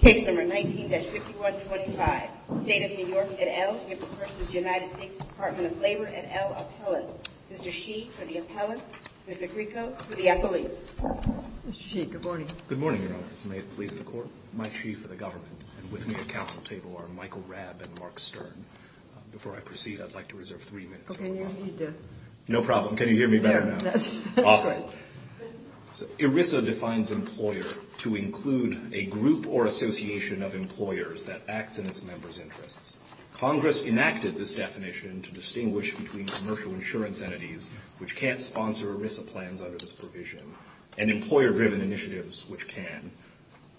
Case number 19-5125. State of New York et al. v. United States Department of Labor et al. Appellants. Mr. Sheed for the appellants. Mr. Grieco for the appellees. Mr. Sheed, good morning. Good morning, Your Honor. May it please the Court. Mike Sheed for the government. And with me at council table are Michael Rabb and Mark Stern. Before I proceed, I'd like to reserve three minutes. No problem. Can you hear me better now? Awesome. ERISA defines employer to include a group or association of employers that act in its members' interests. Congress enacted this definition to distinguish between commercial insurance entities, which can't sponsor ERISA plans under this provision, and employer-driven initiatives, which can.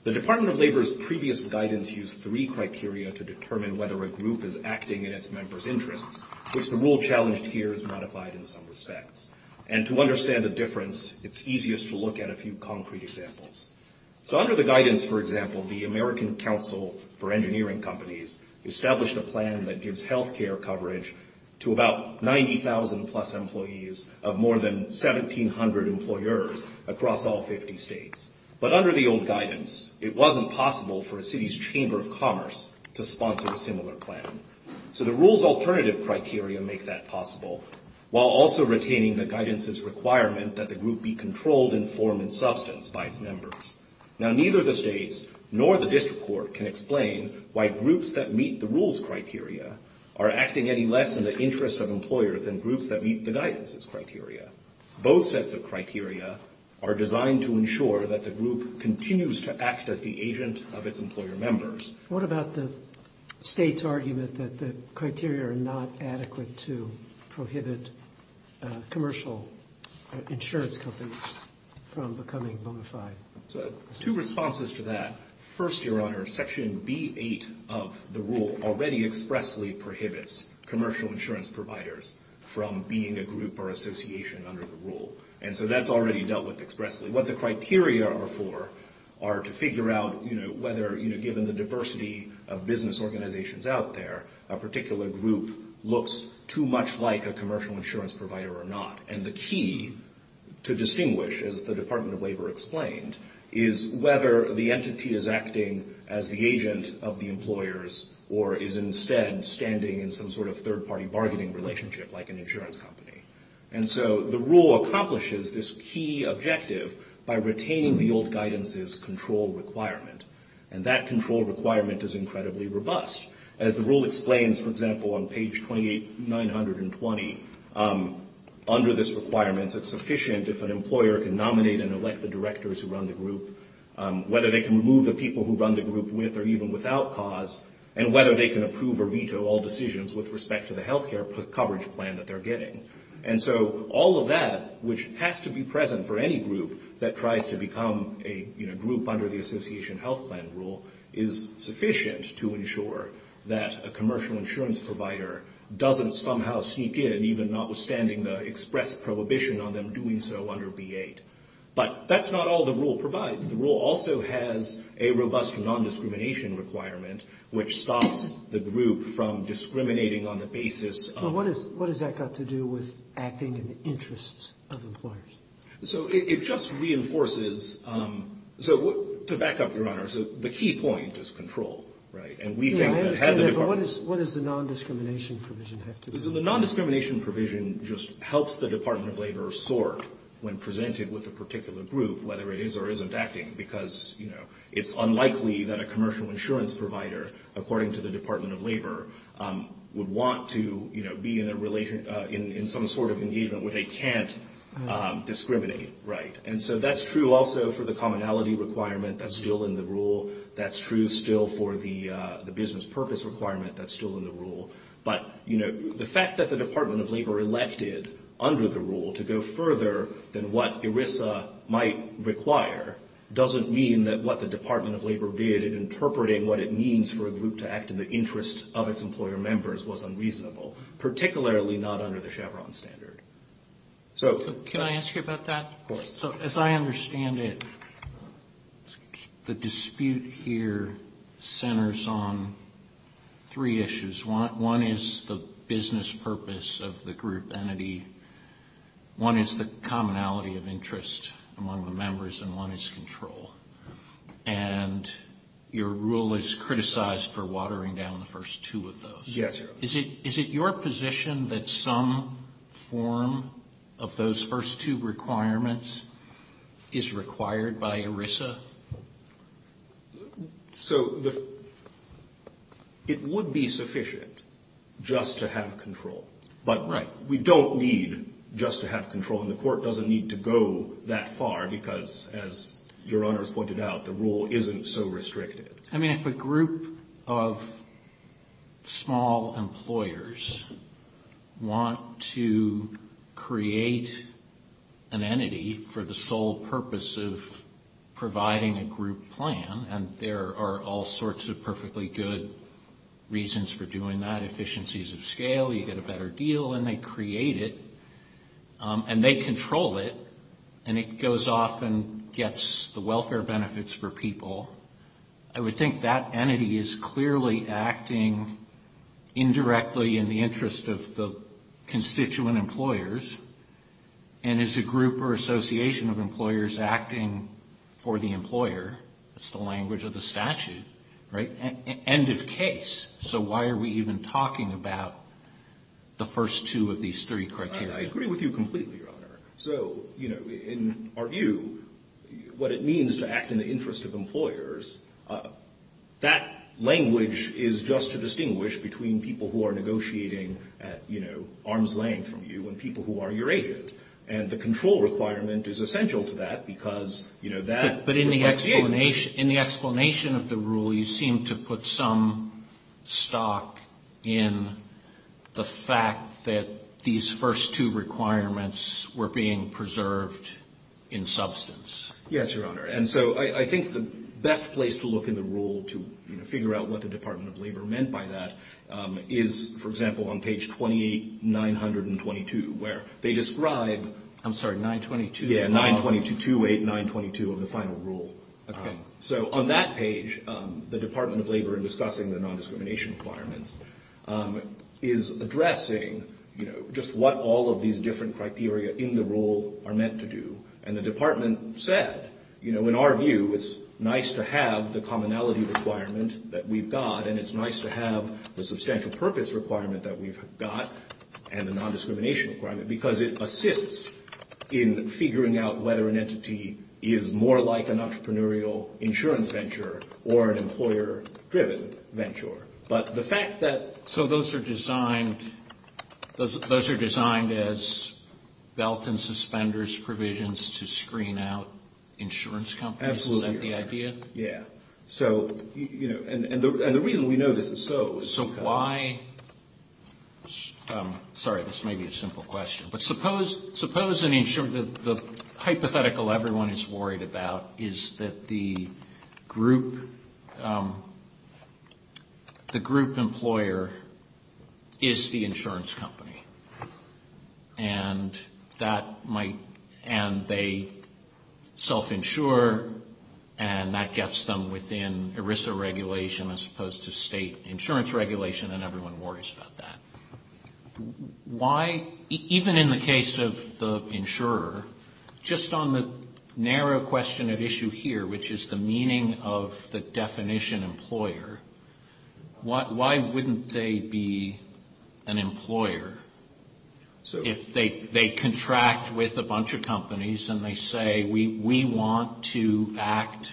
The Department of Labor's previous guidance used three criteria to determine whether a group is acting in its members' interests, which the rule challenged here is modified in some respects. And to understand the difference, it's easiest to look at a few concrete examples. So under the guidance, for example, the American Council for Engineering Companies established a plan that gives health care coverage to about 90,000-plus employees of more than 1,700 employers across all 50 states. But under the old guidance, it wasn't possible for a city's chamber of commerce to sponsor a similar plan. So the rule's alternative criteria make that possible, while also retaining the guidance's requirement that the group be controlled in form and substance by its members. Now, neither the states nor the district court can explain why groups that meet the rule's criteria are acting any less in the interest of employers than groups that meet the guidance's criteria. Both sets of criteria are designed to ensure that the group continues to act as the agent of its employer members. What about the state's argument that the criteria are not adequate to prohibit commercial insurance companies from becoming bona fide? So two responses to that. First, Your Honor, Section B.8 of the rule already expressly prohibits commercial insurance providers from being a group or association under the rule. And so that's already dealt with expressly. So what the criteria are for are to figure out, you know, whether, you know, given the diversity of business organizations out there, a particular group looks too much like a commercial insurance provider or not. And the key to distinguish, as the Department of Labor explained, is whether the entity is acting as the agent of the employers or is instead standing in some sort of third-party bargaining relationship like an insurance company. And so the rule accomplishes this key objective by retaining the old guidance's control requirement. And that control requirement is incredibly robust. As the rule explains, for example, on page 2920, under this requirement, it's sufficient if an employer can nominate and elect the directors who run the group, whether they can remove the people who run the group with or even without cause, and whether they can approve or veto all decisions with respect to the health care coverage plan that they're getting. And so all of that, which has to be present for any group that tries to become a, you know, group under the association health plan rule, is sufficient to ensure that a commercial insurance provider doesn't somehow sneak in, even notwithstanding the expressed prohibition on them doing so under B.8. But that's not all the rule provides. The rule also has a robust non-discrimination requirement, which stops the group from discriminating on the basis of — So it just reinforces — so to back up, Your Honor, so the key point is control, right? And we think that had the — Yeah, but what does the non-discrimination provision have to do with that? Right. And so that's true also for the commonality requirement that's still in the rule. That's true still for the business purpose requirement that's still in the rule. But, you know, the fact that the Department of Labor elected under the rule to go further than what ERISA might require doesn't mean that what the Department of Labor did in interpreting what it means for a group to act in the interest of its employer members was unreasonable, particularly not under the Chevron standard. So — Can I ask you about that? Of course. So as I understand it, the dispute here centers on three issues. One is the business purpose of the group entity. One is the commonality of interest among the members. And one is control. And your rule is criticized for watering down the first two of those. Yes, Your Honor. So is it your position that some form of those first two requirements is required by ERISA? So the — it would be sufficient just to have control. Right. But we don't need just to have control. And the Court doesn't need to go that far because, as Your Honors pointed out, the rule isn't so restricted. I mean, if a group of small employers want to create an entity for the sole purpose of providing a group plan, and there are all sorts of perfectly good reasons for doing that, efficiencies of scale, you get a better deal, and they create it, and they control it, and it goes off and gets the welfare benefits for people, I would think that entity is clearly acting indirectly in the interest of the constituent employers and is a group or association of employers acting for the employer. That's the language of the statute. Right? End of case. So why are we even talking about the first two of these three criteria? I agree with you completely, Your Honor. So, you know, in our view, what it means to act in the interest of employers, that language is just to distinguish between people who are negotiating at, you know, arm's length from you and people who are your agent. And the control requirement is essential to that because, you know, that — But in the explanation of the rule, you seem to put some stock in the fact that these first two requirements were being preserved in substance. Yes, Your Honor. And so I think the best place to look in the rule to figure out what the Department of Labor meant by that is, for example, on page 28, 922, where they describe — I'm sorry, 922? Yeah, 92228922 of the final rule. Okay. So on that page, the Department of Labor, in discussing the nondiscrimination requirements, is addressing, you know, just what all of these different criteria in the rule are meant to do. And the Department said, you know, in our view, it's nice to have the commonality requirement that we've got, and it's nice to have the substantial purpose requirement that we've got, and the nondiscrimination requirement, because it assists in figuring out whether an entity is more like an entrepreneurial institution. An insurance venture or an employer-driven venture. But the fact that — So those are designed — those are designed as belt and suspenders provisions to screen out insurance companies? Absolutely, Your Honor. Is that the idea? Yeah. So, you know, and the reason we know this is so is because — Sorry, this may be a simple question. But suppose an insurer — the hypothetical everyone is worried about is that the group — the group employer is the insurance company. And that might — and they self-insure, and that gets them within ERISA regulation as opposed to state insurance regulation, and everyone worries about that. Why — even in the case of the insurer, just on the narrow question at issue here, which is the meaning of the definition employer, why wouldn't they be an employer? So — If they contract with a bunch of companies and they say, we want to act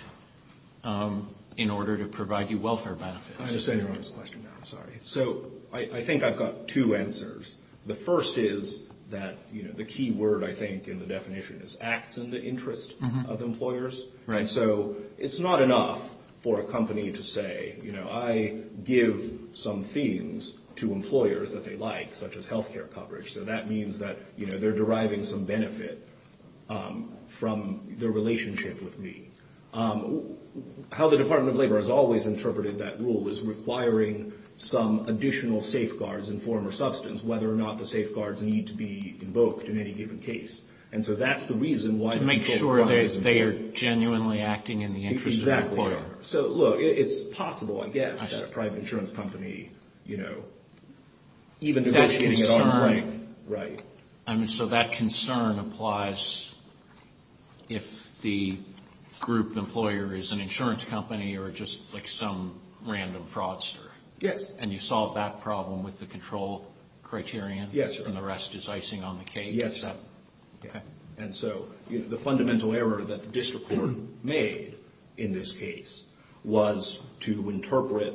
in order to provide you welfare benefits. I understand Your Honor's question now. Sorry. So I think I've got two answers. The first is that, you know, the key word, I think, in the definition is acts in the interest of employers. Right. And so it's not enough for a company to say, you know, I give some things to employers that they like, such as healthcare coverage. So that means that, you know, they're deriving some benefit from their relationship with me. How the Department of Labor has always interpreted that rule is requiring some additional safeguards in form or substance, whether or not the safeguards need to be invoked in any given case. And so that's the reason why — To make sure that they are genuinely acting in the interest of the employer. Exactly. So, look, it's possible, I guess, that a private insurance company, you know, even negotiating it — That concern — Right. I mean, so that concern applies if the group employer is an insurance company or just like some random fraudster. Yes. And you solve that problem with the control criterion? Yes, Your Honor. And the rest is icing on the cake? Yes. Okay. And so the fundamental error that the district court made in this case was to interpret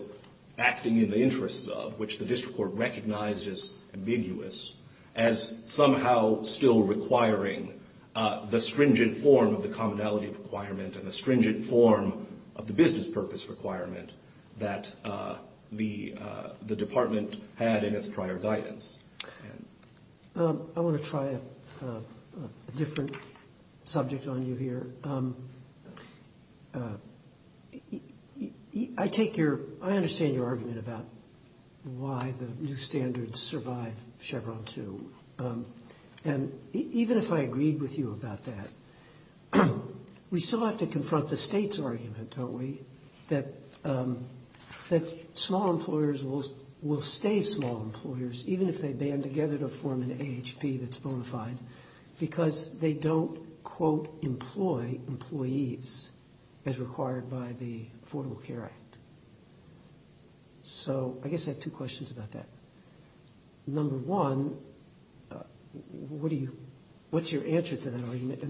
acting in the interests of, which the district court recognized as ambiguous, as somehow still requiring the stringent form of the commonality requirement and the stringent form of the business purpose requirement that the department had in its prior guidance. I want to try a different subject on you here. I take your — I understand your argument about why the new standards survive Chevron 2. And even if I agreed with you about that, we still have to confront the state's argument, don't we, that small employers will stay small employers even if they band together to form an AHP that's bona fide because they don't, quote, employ employees as required by the Affordable Care Act. So I guess I have two questions about that. Number one, what do you — what's your answer to that argument?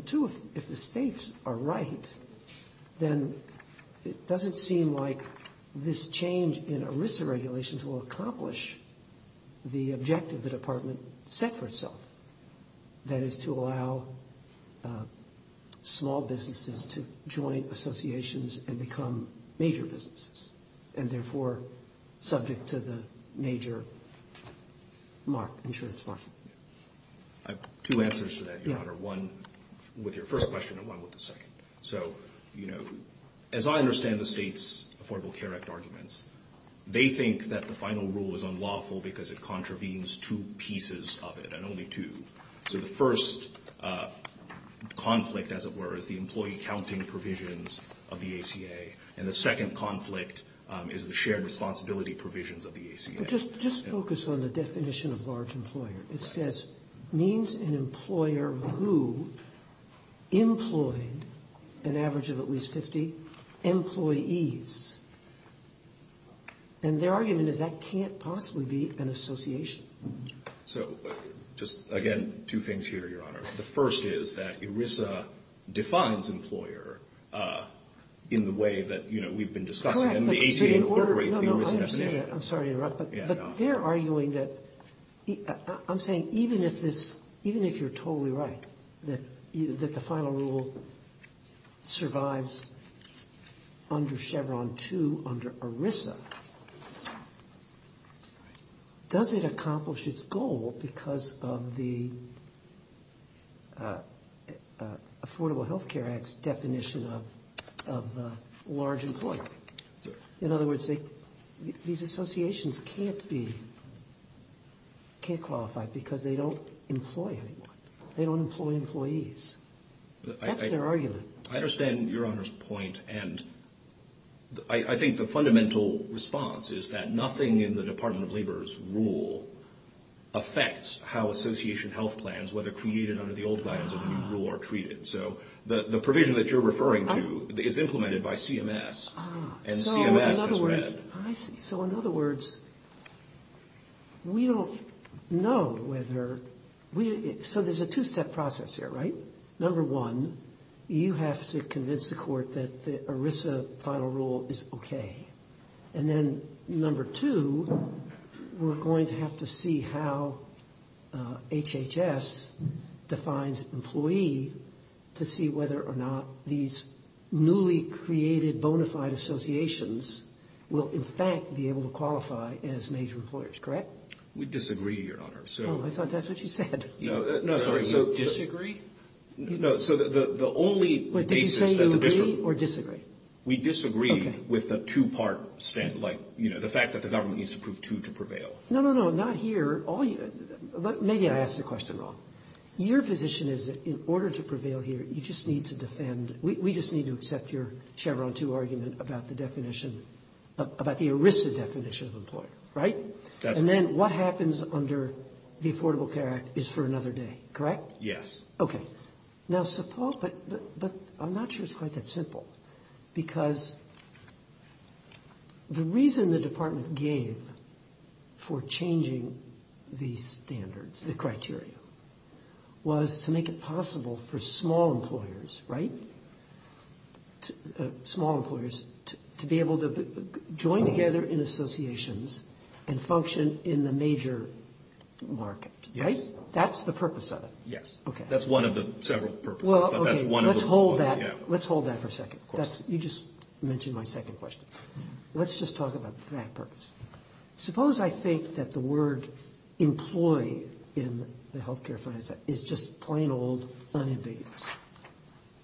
Mark. Are you sure it's Mark? I have two answers to that, Your Honor, one with your first question and one with the second. So, you know, as I understand the state's Affordable Care Act arguments, they think that the final rule is unlawful because it contravenes two pieces of it, and only two. So the first conflict, as it were, is the employee counting provisions of the ACA, and the second conflict is the shared responsibility provisions of the ACA. Just focus on the definition of large employer. It says, means an employer who employed an average of at least 50 employees. And their argument is that can't possibly be an association. So just, again, two things here, Your Honor. The first is that ERISA defines employer in the way that, you know, we've been discussing. And the ACA incorporates the ERISA definition. I'm sorry to interrupt, but they're arguing that — I'm saying even if this — even if you're totally right, that the final rule survives under Chevron 2 under ERISA, does it accomplish its goal because of the Affordable Health Care Act's definition of the large employer? In other words, these associations can't be — can't qualify because they don't employ anyone. They don't employ employees. That's their argument. I understand Your Honor's point, and I think the fundamental response is that nothing in the Department of Labor's rule affects how association health plans, whether created under the old guidance or the new rule, are treated. So the provision that you're referring to is implemented by CMS, and CMS has read. So in other words, we don't know whether — so there's a two-step process here, right? Number one, you have to convince the Court that the ERISA final rule is okay. And then number two, we're going to have to see how HHS defines employee to see whether or not these newly created bona fide associations will in fact be able to qualify as major employers. Correct? We disagree, Your Honor. Oh, I thought that's what you said. No, sorry. So disagree? No, so the only basis — Wait, did you say you agree or disagree? We disagree with the two-part — like, you know, the fact that the government needs to prove two to prevail. No, no, no, not here. Maybe I asked the question wrong. Your position is that in order to prevail here, you just need to defend — we just need to accept your Chevron 2 argument about the definition — about the ERISA definition of employer, right? That's right. And that is under the Affordable Care Act is for another day, correct? Yes. Okay. Now, suppose — but I'm not sure it's quite that simple, because the reason the Department gave for changing these standards, the criteria, was to make it possible for small employers, right? Small employers to be able to join together in associations and function in the major market, right? Yes. That's the purpose of it. Yes. Okay. That's one of the several purposes, but that's one of the — Well, okay, let's hold that. Let's hold that for a second. You just mentioned my second question. Let's just talk about that purpose. Suppose I think that the word employee in the health care finance act is just plain old unambiguous.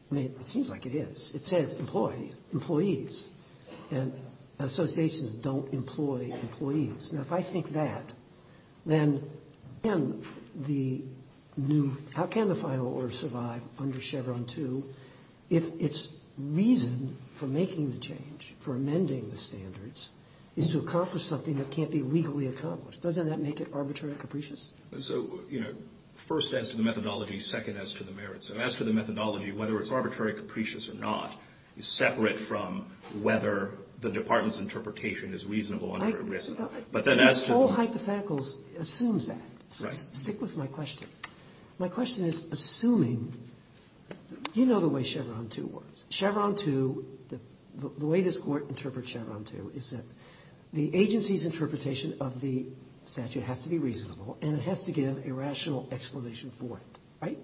I mean, it seems like it is. It says employee, employees. And associations don't employ employees. Now, if I think that, then can the new — how can the final order survive under Chevron 2 if its reason for making the change, for amending the standards, is to accomplish something that can't be legally accomplished? Doesn't that make it arbitrary and capricious? So, you know, first as to the methodology, second as to the merits. So as to the methodology, whether it's arbitrary, capricious or not, is separate from whether the department's interpretation is reasonable under a risk. All hypotheticals assumes that. Stick with my question. My question is, assuming — you know the way Chevron 2 works. Chevron 2, the way this court interprets Chevron 2 is that the agency's interpretation of the statute has to be reasonable, and it has to give a rational explanation for it, right?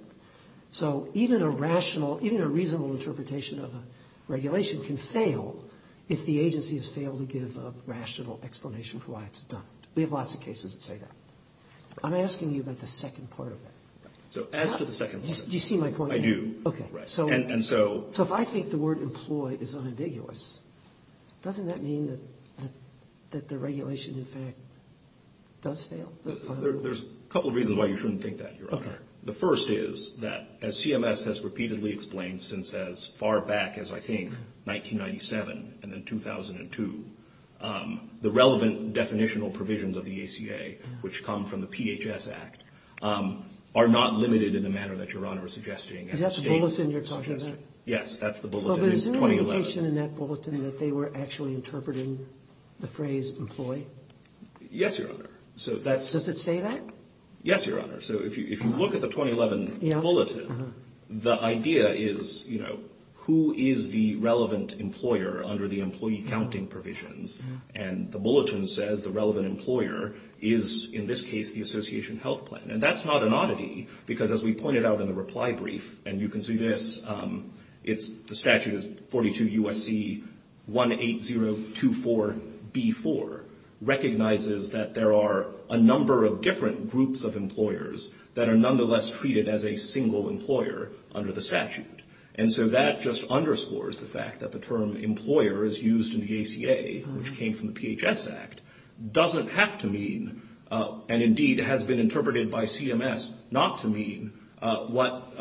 So even a rational — even a reasonable interpretation of a regulation can fail if the agency has failed to give a rational explanation for why it's done. We have lots of cases that say that. I'm asking you about the second part of that. So as to the second part — Do you see my point? I do. Okay. And so — So if I think the word employed is unambiguous, doesn't that mean that the regulation, in fact, does fail? There's a couple of reasons why you shouldn't think that, Your Honor. The first is that, as CMS has repeatedly explained since as far back as, I think, 1997 and then 2002, the relevant definitional provisions of the ACA, which come from the PHS Act, are not limited in the manner that Your Honor is suggesting. Is that the bulletin you're talking about? Yes, that's the bulletin. Well, but is there an indication in that bulletin that they were actually interpreting the phrase employ? Yes, Your Honor. So that's — Does it say that? Yes, Your Honor. So if you look at the 2011 bulletin, the idea is, you know, who is the relevant employer under the employee counting provisions? And the bulletin says the relevant employer is, in this case, the Association Health Plan. And that's not an oddity, because as we pointed out in the reply brief, and you can see this, it's — the statute is 42 U.S.C. 18024B4, recognizes that there are a number of different groups of employers that are nonetheless treated as a single employer under the statute. And so that just underscores the fact that the term employer is used in the ACA, which came from the PHS Act, doesn't have to mean, and indeed has been interpreted by CMS not to mean, what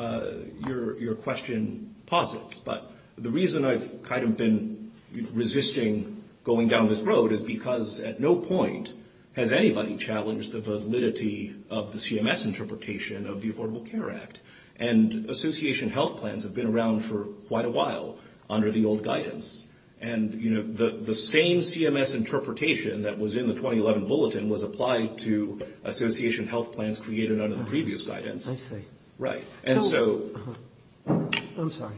your question posits. But the reason I've kind of been resisting going down this road is because at no point has anybody challenged the validity of the CMS interpretation of the Affordable Care Act. And Association Health Plans have been around for quite a while under the old guidance. And, you know, the same CMS interpretation that was in the 2011 bulletin was applied to Association Health Plans created under the previous guidance. I see. Right. And so — I'm sorry.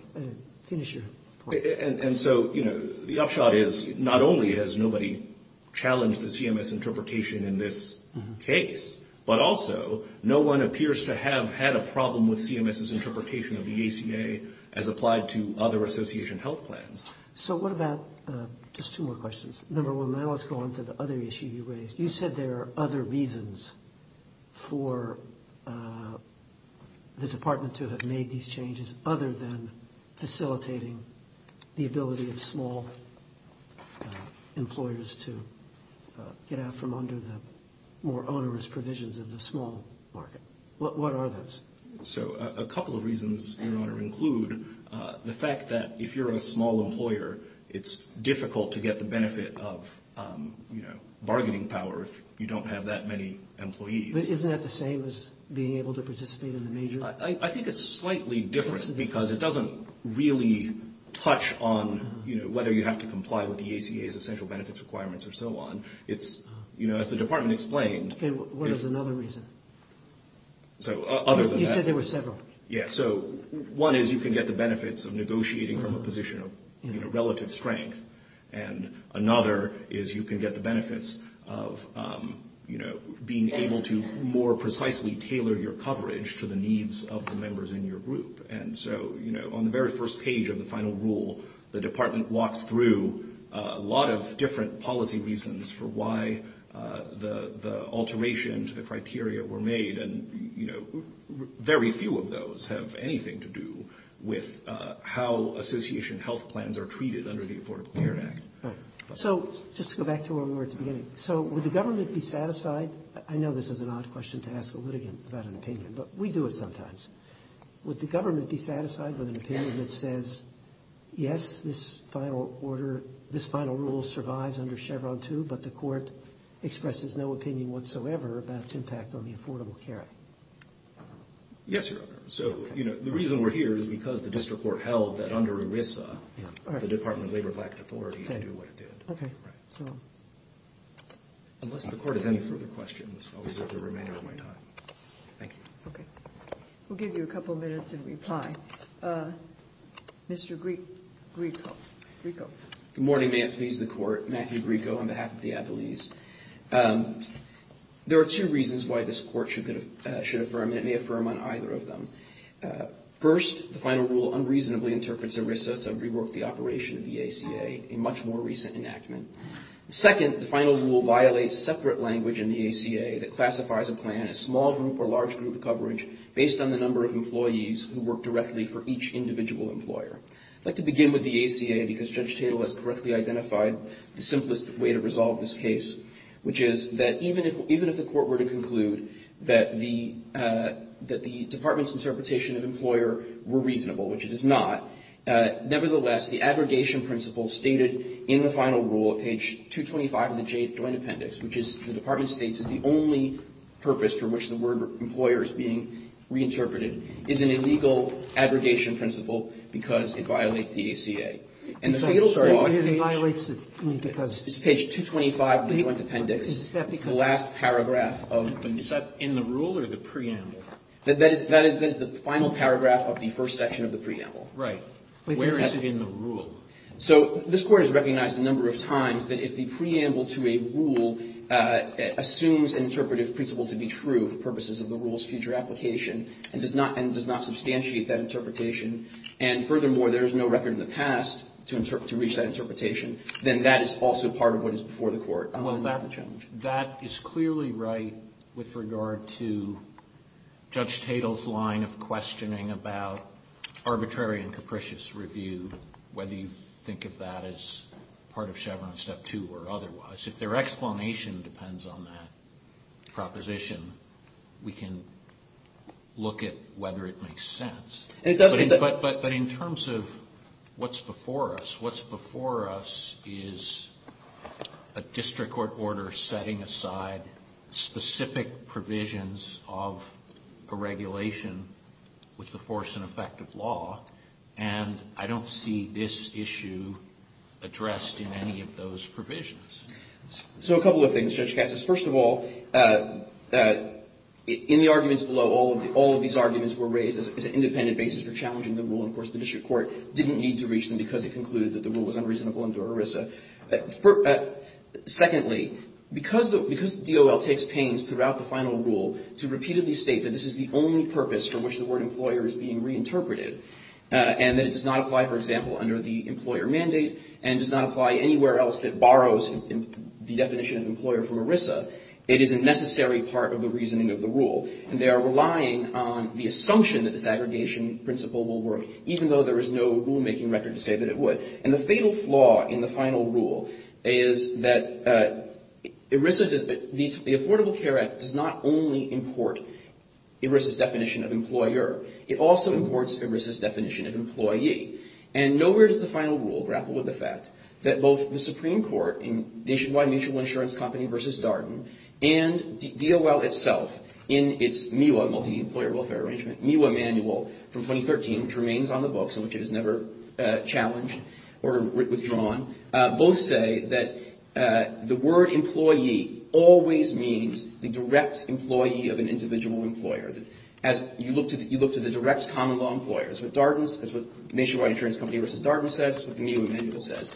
Finish your point. And so, you know, the upshot is not only has nobody challenged the CMS interpretation in this case, but also no one appears to have had a problem with CMS's interpretation of the ACA as applied to other Association Health Plans. So what about — just two more questions. Number one, now let's go on to the other issue you raised. You said there are other reasons for the Department to have made these changes other than facilitating the ability of small employers to get out from under the more onerous provisions of the small market. What are those? So a couple of reasons, Your Honor, include the fact that if you're a small employer, it's difficult to get the benefit of, you know, bargaining power if you don't have that many employees. But isn't that the same as being able to participate in the major? I think it's slightly different because it doesn't really touch on, you know, whether you have to comply with the ACA's essential benefits requirements or so on. It's, you know, as the Department explained — Okay. What is another reason? So other than that — You said there were several. Yes. So one is you can get the benefits of negotiating from a position of, you know, relative strength. And another is you can get the benefits of, you know, being able to more precisely tailor your coverage to the needs of the members in your group. And so, you know, on the very first page of the final rule, the Department walks through a lot of different policy reasons for why the alteration to the criteria were made. And, you know, very few of those have anything to do with how association health plans are treated under the Affordable Care Act. All right. So just to go back to where we were at the beginning. So would the government be satisfied — I know this is an odd question to ask a litigant about an opinion, but we do it sometimes. Would the government be satisfied with an opinion that says, yes, this final order — this final rule survives under Chevron 2, but the Court expresses no opinion whatsoever about its impact on the Affordable Care Act? Yes, Your Honor. So, you know, the reason we're here is because the district court held that under ERISA, the Department of Labor lacked authority to do what it did. Okay. So unless the Court has any further questions, I'll reserve the remainder of my time. Thank you. Okay. We'll give you a couple minutes in reply. Mr. Grieco. Grieco. Good morning. May it please the Court. Matthew Grieco on behalf of the Attlees. There are two reasons why this Court should affirm, and it may affirm on either of them. First, the final rule unreasonably interprets ERISA to rework the operation of the ACA, a much more recent enactment. Second, the final rule violates separate language in the ACA that classifies a plan as small group or large group coverage based on the number of employees who work directly for each individual employer. I'd like to begin with the ACA, because Judge Tatel has correctly identified the simplest way to resolve this case, which is that even if the Court were to conclude that the Department's interpretation of employer were reasonable, which it is not, nevertheless, the aggregation principle stated in the final rule at page 225 of the Joint Appendix, which the Department states is the only purpose for which the word employer is being reinterpreted, is an illegal aggregation principle because it violates the ACA. And the fatal flaw is page 225 of the Joint Appendix. Is that because of the rule or the preamble? That is the final paragraph of the first section of the preamble. Right. Where is it in the rule? So this Court has recognized a number of times that if the preamble to a rule assumes an interpretive principle to be true for purposes of the rule's future application and does not substantiate that interpretation, and furthermore, there is no record in the past to reach that interpretation, That is clearly right with regard to Judge Tatel's line of questioning about arbitrary and capricious review, whether you think of that as part of Chevron Step 2 or otherwise. If their explanation depends on that proposition, we can look at whether it makes sense. But in terms of what's before us, what's before us is a district court order setting aside specific provisions of a regulation with the force and effect of law, and I don't see this issue addressed in any of those provisions. So a couple of things, Judge Katz. First of all, in the arguments below, all of these arguments were raised as an independent basis for challenging the rule, and, of course, the district court didn't need to reach them because it concluded that the rule was unreasonable under ERISA. Secondly, because the DOL takes pains throughout the final rule to repeatedly state that this is the only purpose for which the word employer is being reinterpreted, and that it does not apply, for example, under the employer mandate and does not apply anywhere else that borrows the definition of employer from ERISA, it is a necessary part of the reasoning of the rule. And they are relying on the assumption that this aggregation principle will work, even though there is no rulemaking record to say that it would. And the fatal flaw in the final rule is that ERISA, the Affordable Care Act, does not only import ERISA's definition of employer. It also imports ERISA's definition of employee. And nowhere does the final rule grapple with the fact that both the Supreme Court in Nationwide Mutual Insurance Company versus Darden and DOL itself in its MIWA, Multi-Employer Welfare Arrangement, MIWA manual from 2013, which remains on the books and which it has never challenged or withdrawn, both say that the word employee always means the direct employee of an individual employer. You look to the direct common law employer. That's what Nationwide Insurance Company versus Darden says. That's what the MIWA manual says.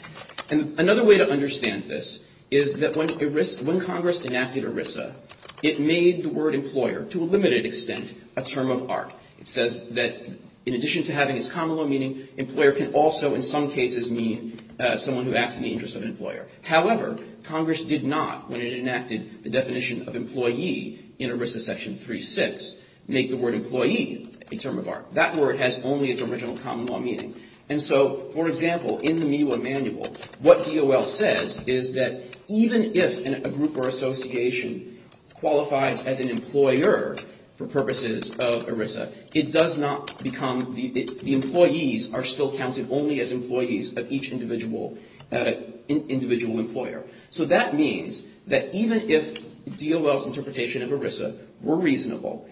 And another way to understand this is that when Congress enacted ERISA, it made the word employer to a limited extent a term of art. It says that in addition to having its common law meaning, employer can also in some cases mean someone who acts in the interest of an employer. However, Congress did not, when it enacted the definition of employee in ERISA Section 3.6, make the word employee a term of art. That word has only its original common law meaning. And so, for example, in the MIWA manual, what DOL says is that even if a group or association qualifies as an employer for purposes of ERISA, it does not become the employees are still counted only as employees of each individual employer. So that means that even if DOL's interpretation of ERISA were reasonable,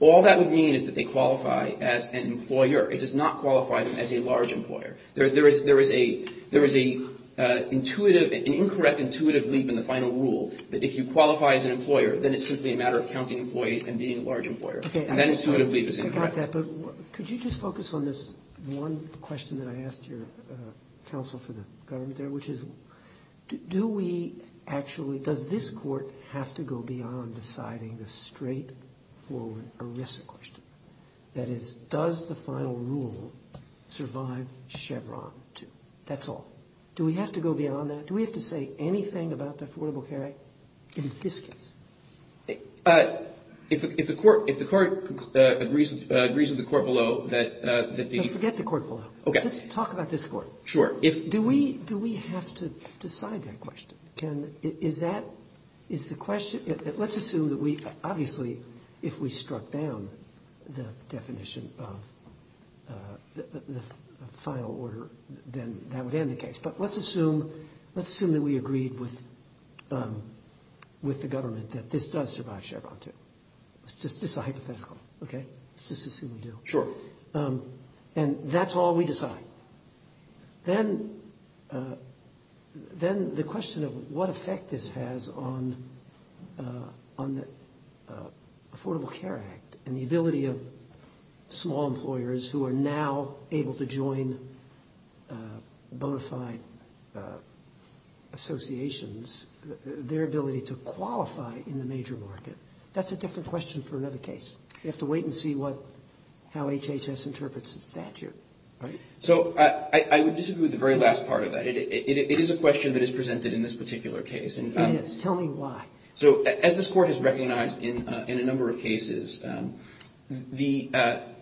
all that would mean is that they qualify as an employer. It does not qualify them as a large employer. There is an incorrect intuitive leap in the final rule that if you qualify as an employer, then it's simply a matter of counting employees and being a large employer. And that intuitive leap is incorrect. I like that, but could you just focus on this one question that I asked your counsel for the government there, which is do we actually, does this court have to go beyond deciding the straightforward ERISA question? That is, does the final rule survive Chevron too? That's all. Do we have to go beyond that? Do we have to say anything about the Affordable Care Act in this case? If the court agrees with the court below that the – No, forget the court below. Okay. Just talk about this court. Sure. Do we have to decide that question? Can – is that – is the question – let's assume that we – obviously, if we struck down the definition of the final order, then that would end the case. But let's assume that we agreed with the government that this does survive Chevron too. This is a hypothetical, okay? Let's just assume we do. Sure. And that's all we decide. Then the question of what effect this has on the Affordable Care Act and the ability of small employers who are now able to join bona fide associations, their ability to qualify in the major market, that's a different question for another case. We have to wait and see what – how HHS interprets the statute. So I would disagree with the very last part of that. It is a question that is presented in this particular case. It is. Tell me why. So as this Court has recognized in a number of cases, the –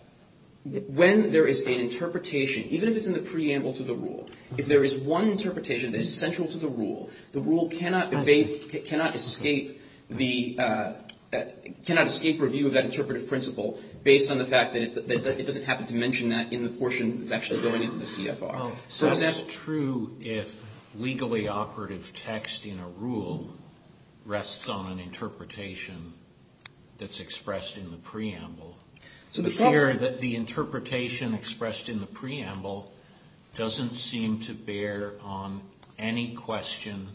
when there is an interpretation, even if it's in the preamble to the rule, if there is one interpretation that is central to the rule, the rule cannot escape the – cannot escape review of that interpretive principle based on the fact that it doesn't happen to mention that in the portion that's actually going into the CFR. So is that true if legally operative text in a rule rests on an interpretation that's expressed in the preamble? The interpretation expressed in the preamble doesn't seem to bear on any question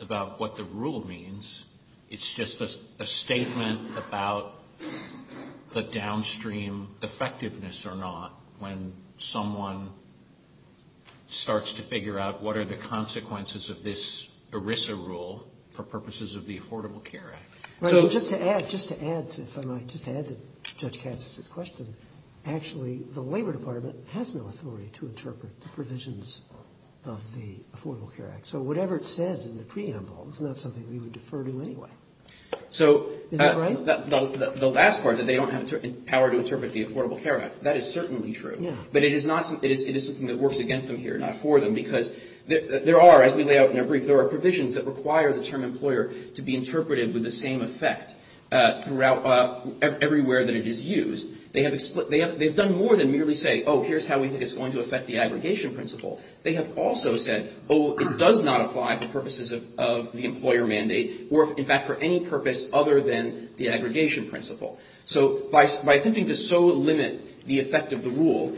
about what the rule means. It's just a statement about the downstream effectiveness or not when someone starts to figure out what are the consequences of this ERISA rule for purposes of the Affordable Care Act. Right. And just to add, if I might, just to add to Judge Katsas' question, actually the Labor Department has no authority to interpret the provisions of the Affordable Care Act. So whatever it says in the preamble is not something we would defer to anyway. So the last part, that they don't have power to interpret the Affordable Care Act, that is certainly true. But it is not – it is something that works against them here, not for them, because there are, as we lay out in our brief, there are provisions that require the term employer to be interpreted with the same effect throughout – everywhere that it is used. They have done more than merely say, oh, here's how we think it's going to affect the aggregation principle. They have also said, oh, it does not apply for purposes of the employer mandate or, in fact, for any purpose other than the aggregation principle. So by attempting to so limit the effect of the rule,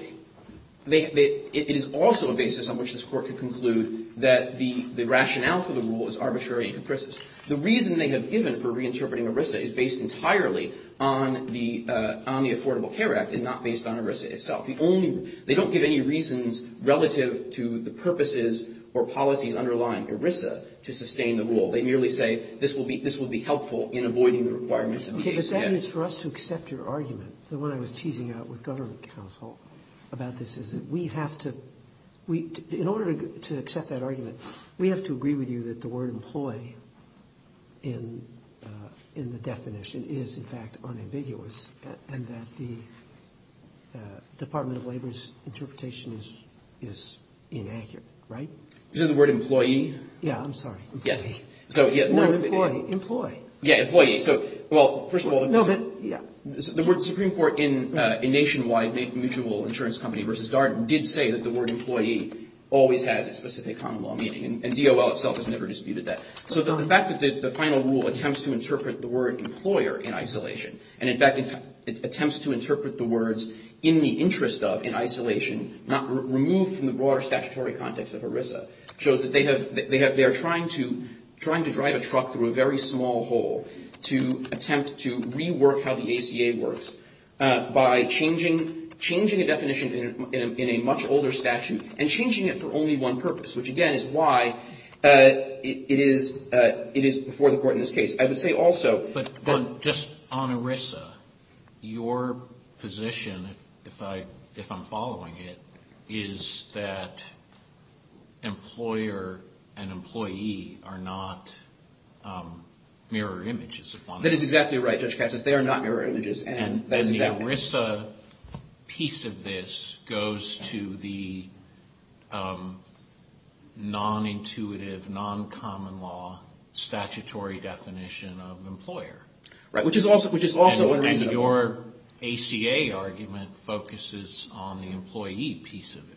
it is also a basis on which this Court could conclude that the rationale for the rule is arbitrary and capricious. The reason they have given for reinterpreting ERISA is based entirely on the Affordable Care Act and not based on ERISA itself. The only – they don't give any reasons relative to the purposes or policies underlying ERISA to sustain the rule. They merely say this will be – this will be helpful in avoiding the requirements of the ACA. Okay. But that means for us to accept your argument, the one I was teasing out with government counsel about this, is that we have to – in order to accept that argument, we have to agree with you that the word employee in the definition is, in fact, unambiguous and that the Department of Labor's interpretation is inaccurate, right? Is it the word employee? Yeah, I'm sorry. Employee. Employee. Yeah, employee. So, well, first of all, the Supreme Court in nationwide mutual insurance company versus Darden did say that the word employee always has a specific common law meaning. And DOL itself has never disputed that. So the fact that the final rule attempts to interpret the word employer in isolation and, in fact, attempts to interpret the words in the interest of, in isolation, removed from the broader statutory context of ERISA, shows that they have – they are trying to drive a truck through a very small hole to attempt to rework how the ACA works by changing a definition in a much older statute and changing it for only one purpose, which, again, is why it is before the Court in this case. I would say also – In ERISA, your position, if I'm following it, is that employer and employee are not mirror images. That is exactly right, Judge Katz. They are not mirror images. And the ERISA piece of this goes to the non-intuitive, non-common law statutory definition of employer. Right, which is also – And your ACA argument focuses on the employee piece of it.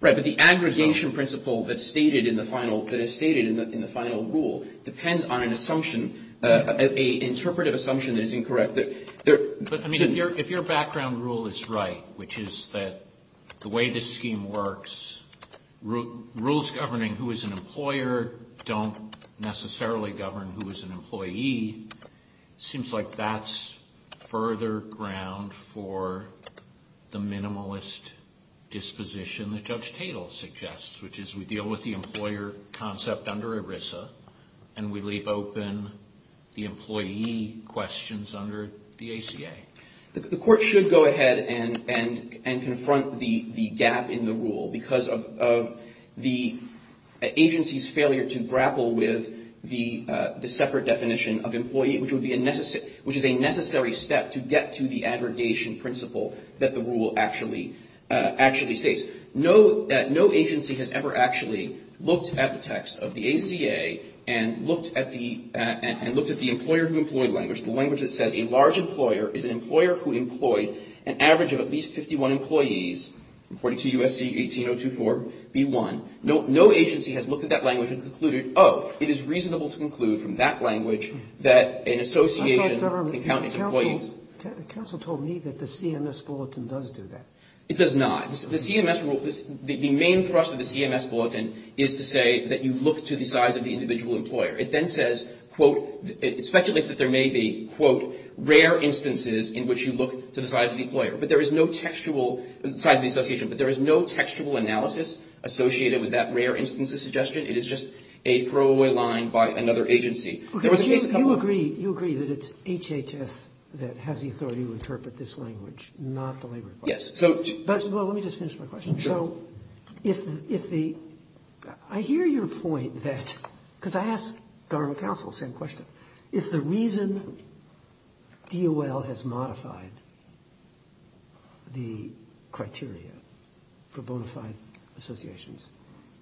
Right, but the aggregation principle that is stated in the final rule depends on an assumption, an interpretive assumption that is incorrect. But, I mean, if your background rule is right, which is that the way this scheme works, rules governing who is an employer don't necessarily govern who is an employee, seems like that's further ground for the minimalist disposition that Judge Tatel suggests, which is we deal with the employer concept under ERISA and we leave open the employee questions under the ACA. The Court should go ahead and confront the gap in the rule because of the agency's failure to grapple with the separate definition of employee, which is a necessary step to get to the aggregation principle that the rule actually states. No agency has ever actually looked at the text of the ACA and looked at the employer-who-employed language, the language that says a large employer is an employer who employed an average of at least 51 employees, according to USC 18024B1. No agency has looked at that language and concluded, oh, it is reasonable to conclude from that language that an association can count its employees. Counsel told me that the CMS bulletin does do that. It does not. The CMS rule, the main thrust of the CMS bulletin is to say that you look to the size of the individual employer. It then says, quote, it speculates that there may be, quote, rare instances in which you look to the size of the employer. But there is no textual, size of the association, but there is no textual analysis associated with that rare instances suggestion. It is just a throwaway line by another agency. There was a case a couple of years ago. Okay. So you agree that it's HHS that has the authority to interpret this language, not the labor department. Yes. Well, let me just finish my question. Sure. Well, if the ‑‑ I hear your point that ‑‑ because I asked government counsel the same question. If the reason DOL has modified the criteria for bona fide associations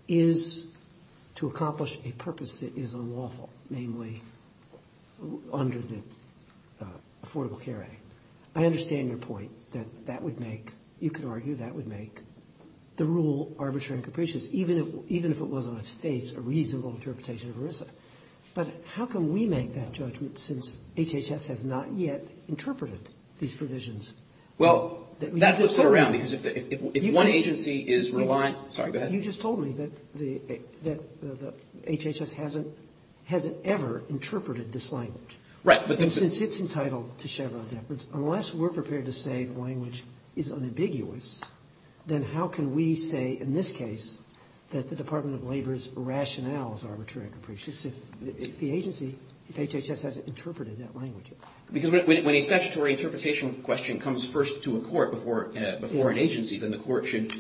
is to accomplish a purpose that is unlawful, namely under the Affordable Care Act, I understand your point that that would make, you could argue that would make the rule arbitrary and capricious, even if it was on its face a reasonable interpretation of ERISA. But how can we make that judgment since HHS has not yet interpreted these provisions? Well, that was put around. Because if one agency is reliant ‑‑ sorry, go ahead. You just told me that HHS hasn't ever interpreted this language. Right. And since it's entitled to Chevron deference, unless we're prepared to say the language is unambiguous, then how can we say in this case that the Department of Labor's rationale is arbitrary and capricious if the agency, if HHS hasn't interpreted that language? Because when a statutory interpretation question comes first to a court before an agency, then the court should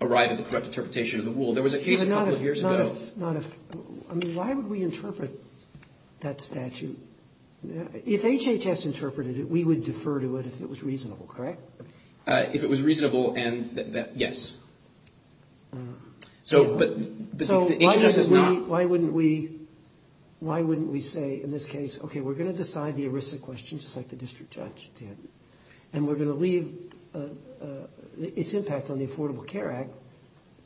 arrive at the correct interpretation of the rule. There was a case a couple of years ago. I mean, why would we interpret that statute? If HHS interpreted it, we would defer to it if it was reasonable, correct? If it was reasonable, yes. So why wouldn't we say in this case, okay, we're going to decide the ERISA question just like the district judge did and we're going to leave its impact on the Affordable Care Act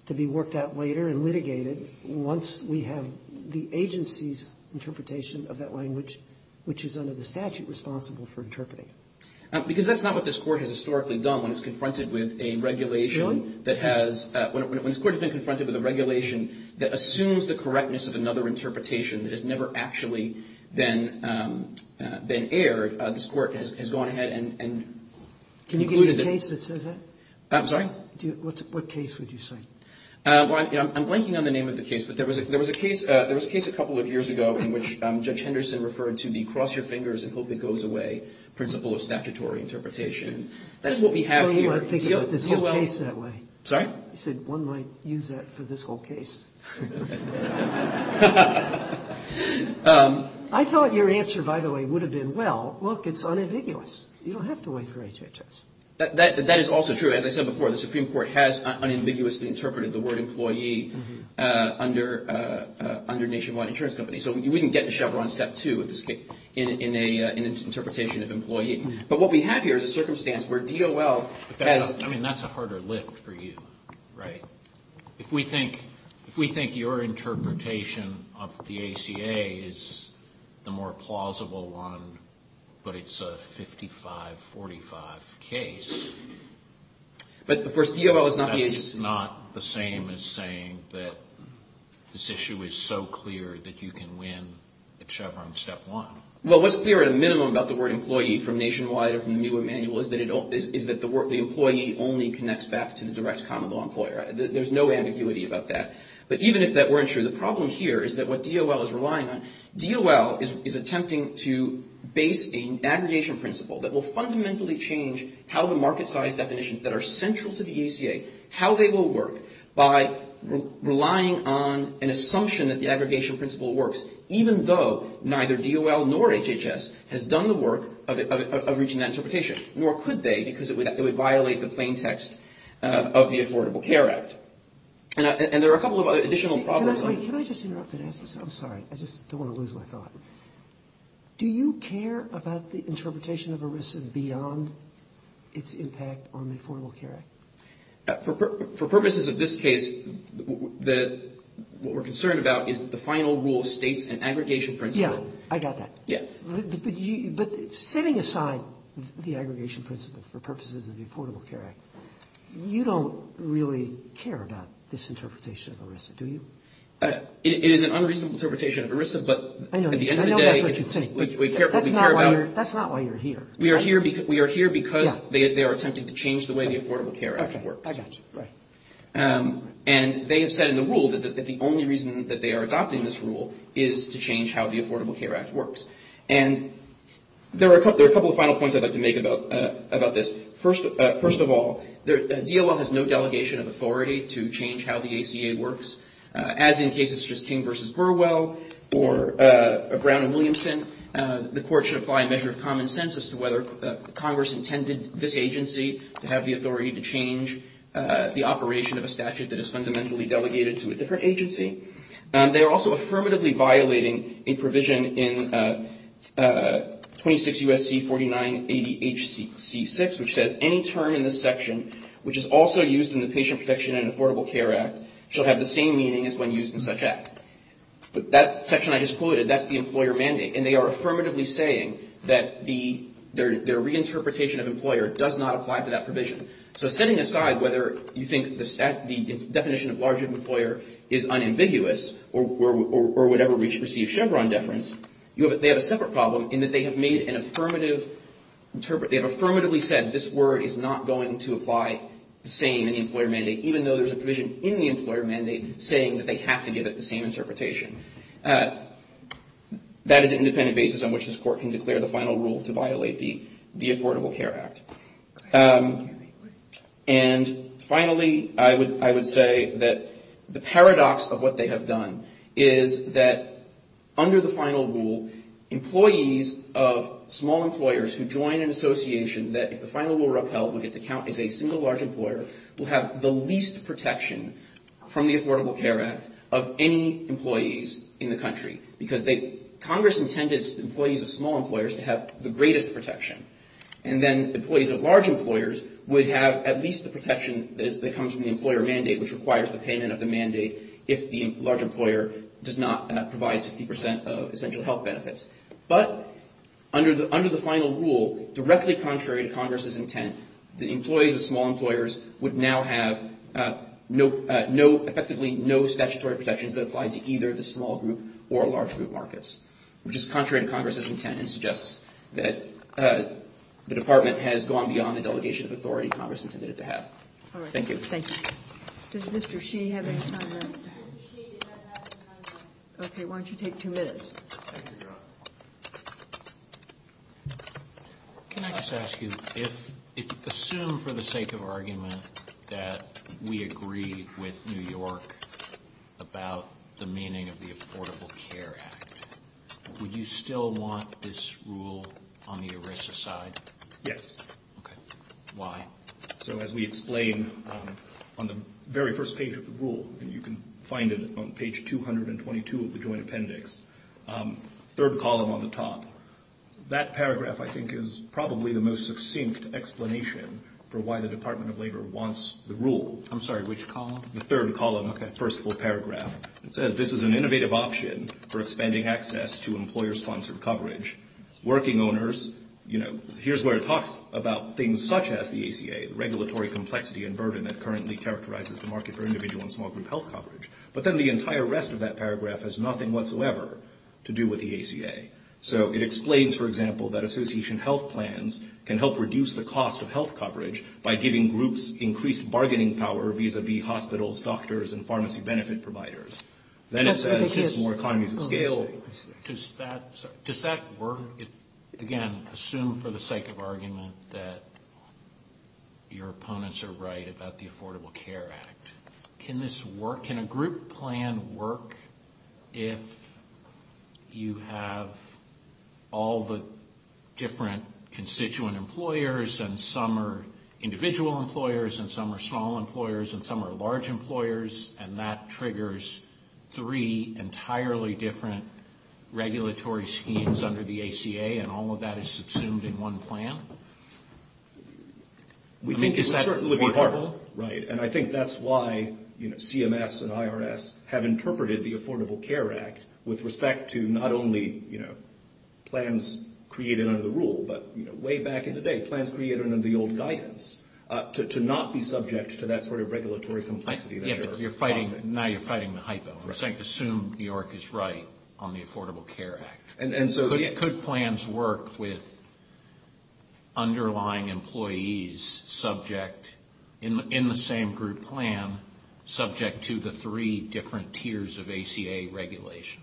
to be worked out later and litigated once we have the agency's interpretation of that language, which is under the statute responsible for interpreting it? Because that's not what this court has historically done. When it's confronted with a regulation that has, when this court has been confronted with a regulation that assumes the correctness of another interpretation that has never actually been aired, this court has gone ahead and concluded that. Can you give me a case that says that? I'm sorry? What case would you cite? Well, I'm blanking on the name of the case, but there was a case a couple of years ago in which Judge Henderson referred to the cross your fingers and hope it goes away principle of statutory interpretation. That is what we have here. You want to think about this whole case that way. Sorry? He said one might use that for this whole case. I thought your answer, by the way, would have been, well, look, it's unambiguous. You don't have to wait for HHS. That is also true. As I said before, the Supreme Court has unambiguously interpreted the word employee under Nationwide Insurance Company. So we can get to Chevron step two in an interpretation of employee. But what we have here is a circumstance where DOL has. I mean, that's a harder lift for you, right? If we think your interpretation of the ACA is the more plausible one, but it's a 55-45 case. But, of course, DOL is not the agency. That's not the same as saying that this issue is so clear that you can win at Chevron step one. Well, what's clear at a minimum about the word employee from Nationwide is that the employee only connects back to the direct common law employer. There's no ambiguity about that. But even if that weren't true, the problem here is that what DOL is relying on, DOL is attempting to base an aggregation principle that will fundamentally change how the market size definitions that are central to the ACA, how they will work by relying on an assumption that the aggregation principle works, even though neither DOL nor HHS has done the work of reaching that interpretation, nor could they because it would violate the plain text of the Affordable Care Act. And there are a couple of other additional problems. Can I just interrupt and ask this? I'm sorry. I just don't want to lose my thought. Do you care about the interpretation of ERISA beyond its impact on the Affordable Care Act? For purposes of this case, what we're concerned about is the final rule states an aggregation principle. Yeah, I got that. Yeah. But setting aside the aggregation principle for purposes of the Affordable Care Act, you don't really care about this interpretation of ERISA, do you? It is an unreasonable interpretation of ERISA, but at the end of the day, we care about it. That's not why you're here. We are here because they are attempting to change the way the Affordable Care Act works. Okay. I got you. Right. And they have said in the rule that the only reason that they are adopting this rule is to change how the Affordable Care Act works. And there are a couple of final points I'd like to make about this. First of all, DOL has no delegation of authority to change how the ACA works, as in cases such as King v. Burwell or Brown v. Williamson. The court should apply a measure of common sense as to whether Congress intended this agency to have the authority to change the operation of a statute that is fundamentally delegated to a different agency. They are also affirmatively violating a provision in 26 U.S.C. 49 ADHC 6, which says any term in this section which is also used in the Patient Protection and Affordable Care Act shall have the same meaning as when used in such act. That section I just quoted, that's the employer mandate. And they are affirmatively saying that their reinterpretation of employer does not apply to that provision. So setting aside whether you think the definition of larger employer is unambiguous or would ever receive Chevron deference, they have a separate problem in that they have made an affirmative, they have affirmatively said this word is not going to apply the same in the employer mandate, even though there's a provision in the employer mandate saying that they have to give it the same interpretation. That is an independent basis on which this court can declare the final rule to violate the Affordable Care Act. And finally, I would say that the paradox of what they have done is that under the final rule, employees of small employers who join an association that, if the final rule were upheld, would get to count as a single large employer, will have the least protection from the Affordable Care Act of any employees in the country. Because Congress intended employees of small employers to have the greatest protection. And then employees of large employers would have at least the protection that comes from the employer mandate, which requires the payment of the mandate if the large employer does not provide 60 percent of essential health benefits. But under the final rule, directly contrary to Congress's intent, the employees of small employers would now have effectively no statutory protections that apply to either the small group or large group markets, which is contrary to Congress's intent and suggests that the Department has gone beyond the delegation of authority Congress intended to have. Thank you. Thank you. Does Mr. Shee have any comment? Mr. Shee does not have any comment. Okay, why don't you take two minutes? Thank you, Your Honor. Can I just ask you, if you assume for the sake of argument that we agree with New York about the meaning of the Affordable Care Act, would you still want this rule on the ERISA side? Yes. Okay. Why? So as we explain on the very first page of the rule, and you can find it on page 222 of the joint appendix, third column on the top, that paragraph I think is probably the most succinct explanation for why the Department of Labor wants the rule. I'm sorry, which column? The third column, first full paragraph. It says this is an innovative option for expanding access to employer-sponsored coverage. Working owners, you know, here's where it talks about things such as the ACA, the regulatory complexity and burden that currently characterizes the market for individual and small group health coverage. But then the entire rest of that paragraph has nothing whatsoever to do with the ACA. So it explains, for example, that association health plans can help reduce the cost of health coverage by giving groups increased bargaining power vis-a-vis hospitals, doctors, and pharmacy benefit providers. Then it says this is more economies of scale. Does that work? Again, assume for the sake of argument that your opponents are right about the Affordable Care Act. Can a group plan work if you have all the different constituent employers and some are individual employers and some are small employers and some are large employers, and that triggers three entirely different regulatory schemes under the ACA and all of that is subsumed in one plan? I mean, is that workable? Right, and I think that's why, you know, CMS and IRS have interpreted the Affordable Care Act with respect to not only, you know, plans created under the rule, but way back in the day, plans created under the old guidance, to not be subject to that sort of regulatory complexity. Yeah, but you're fighting, now you're fighting the hypo. Assume New York is right on the Affordable Care Act. Could plans work with underlying employees subject, in the same group plan, subject to the three different tiers of ACA regulation?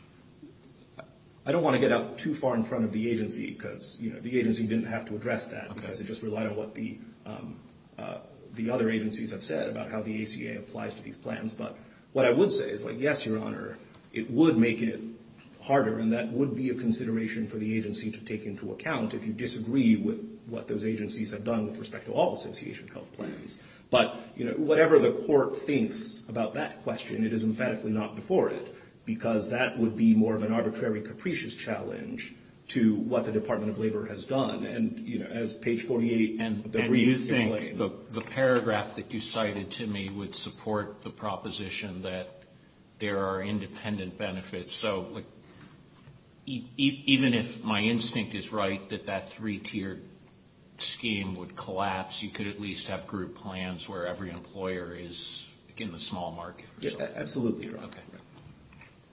I don't want to get out too far in front of the agency because, you know, the agency didn't have to address that because it just relied on what the other agencies have said about how the ACA applies to these plans, but what I would say is, like, yes, Your Honor, it would make it harder and that would be a consideration for the agency to take into account if you disagree with what those agencies have done with respect to all association health plans. But, you know, whatever the court thinks about that question, it is emphatically not before it because that would be more of an arbitrary, capricious challenge to what the Department of Labor has done. And, you know, as page 48 of the brief explains. And you think the paragraph that you cited to me would support the proposition that there are independent benefits. So, like, even if my instinct is right that that three-tiered scheme would collapse, you could at least have group plans where every employer is in the small market. Absolutely, Your Honor. Okay.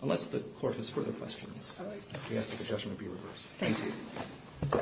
Unless the court has further questions. All right. We ask that the judgment be reversed. Thank you.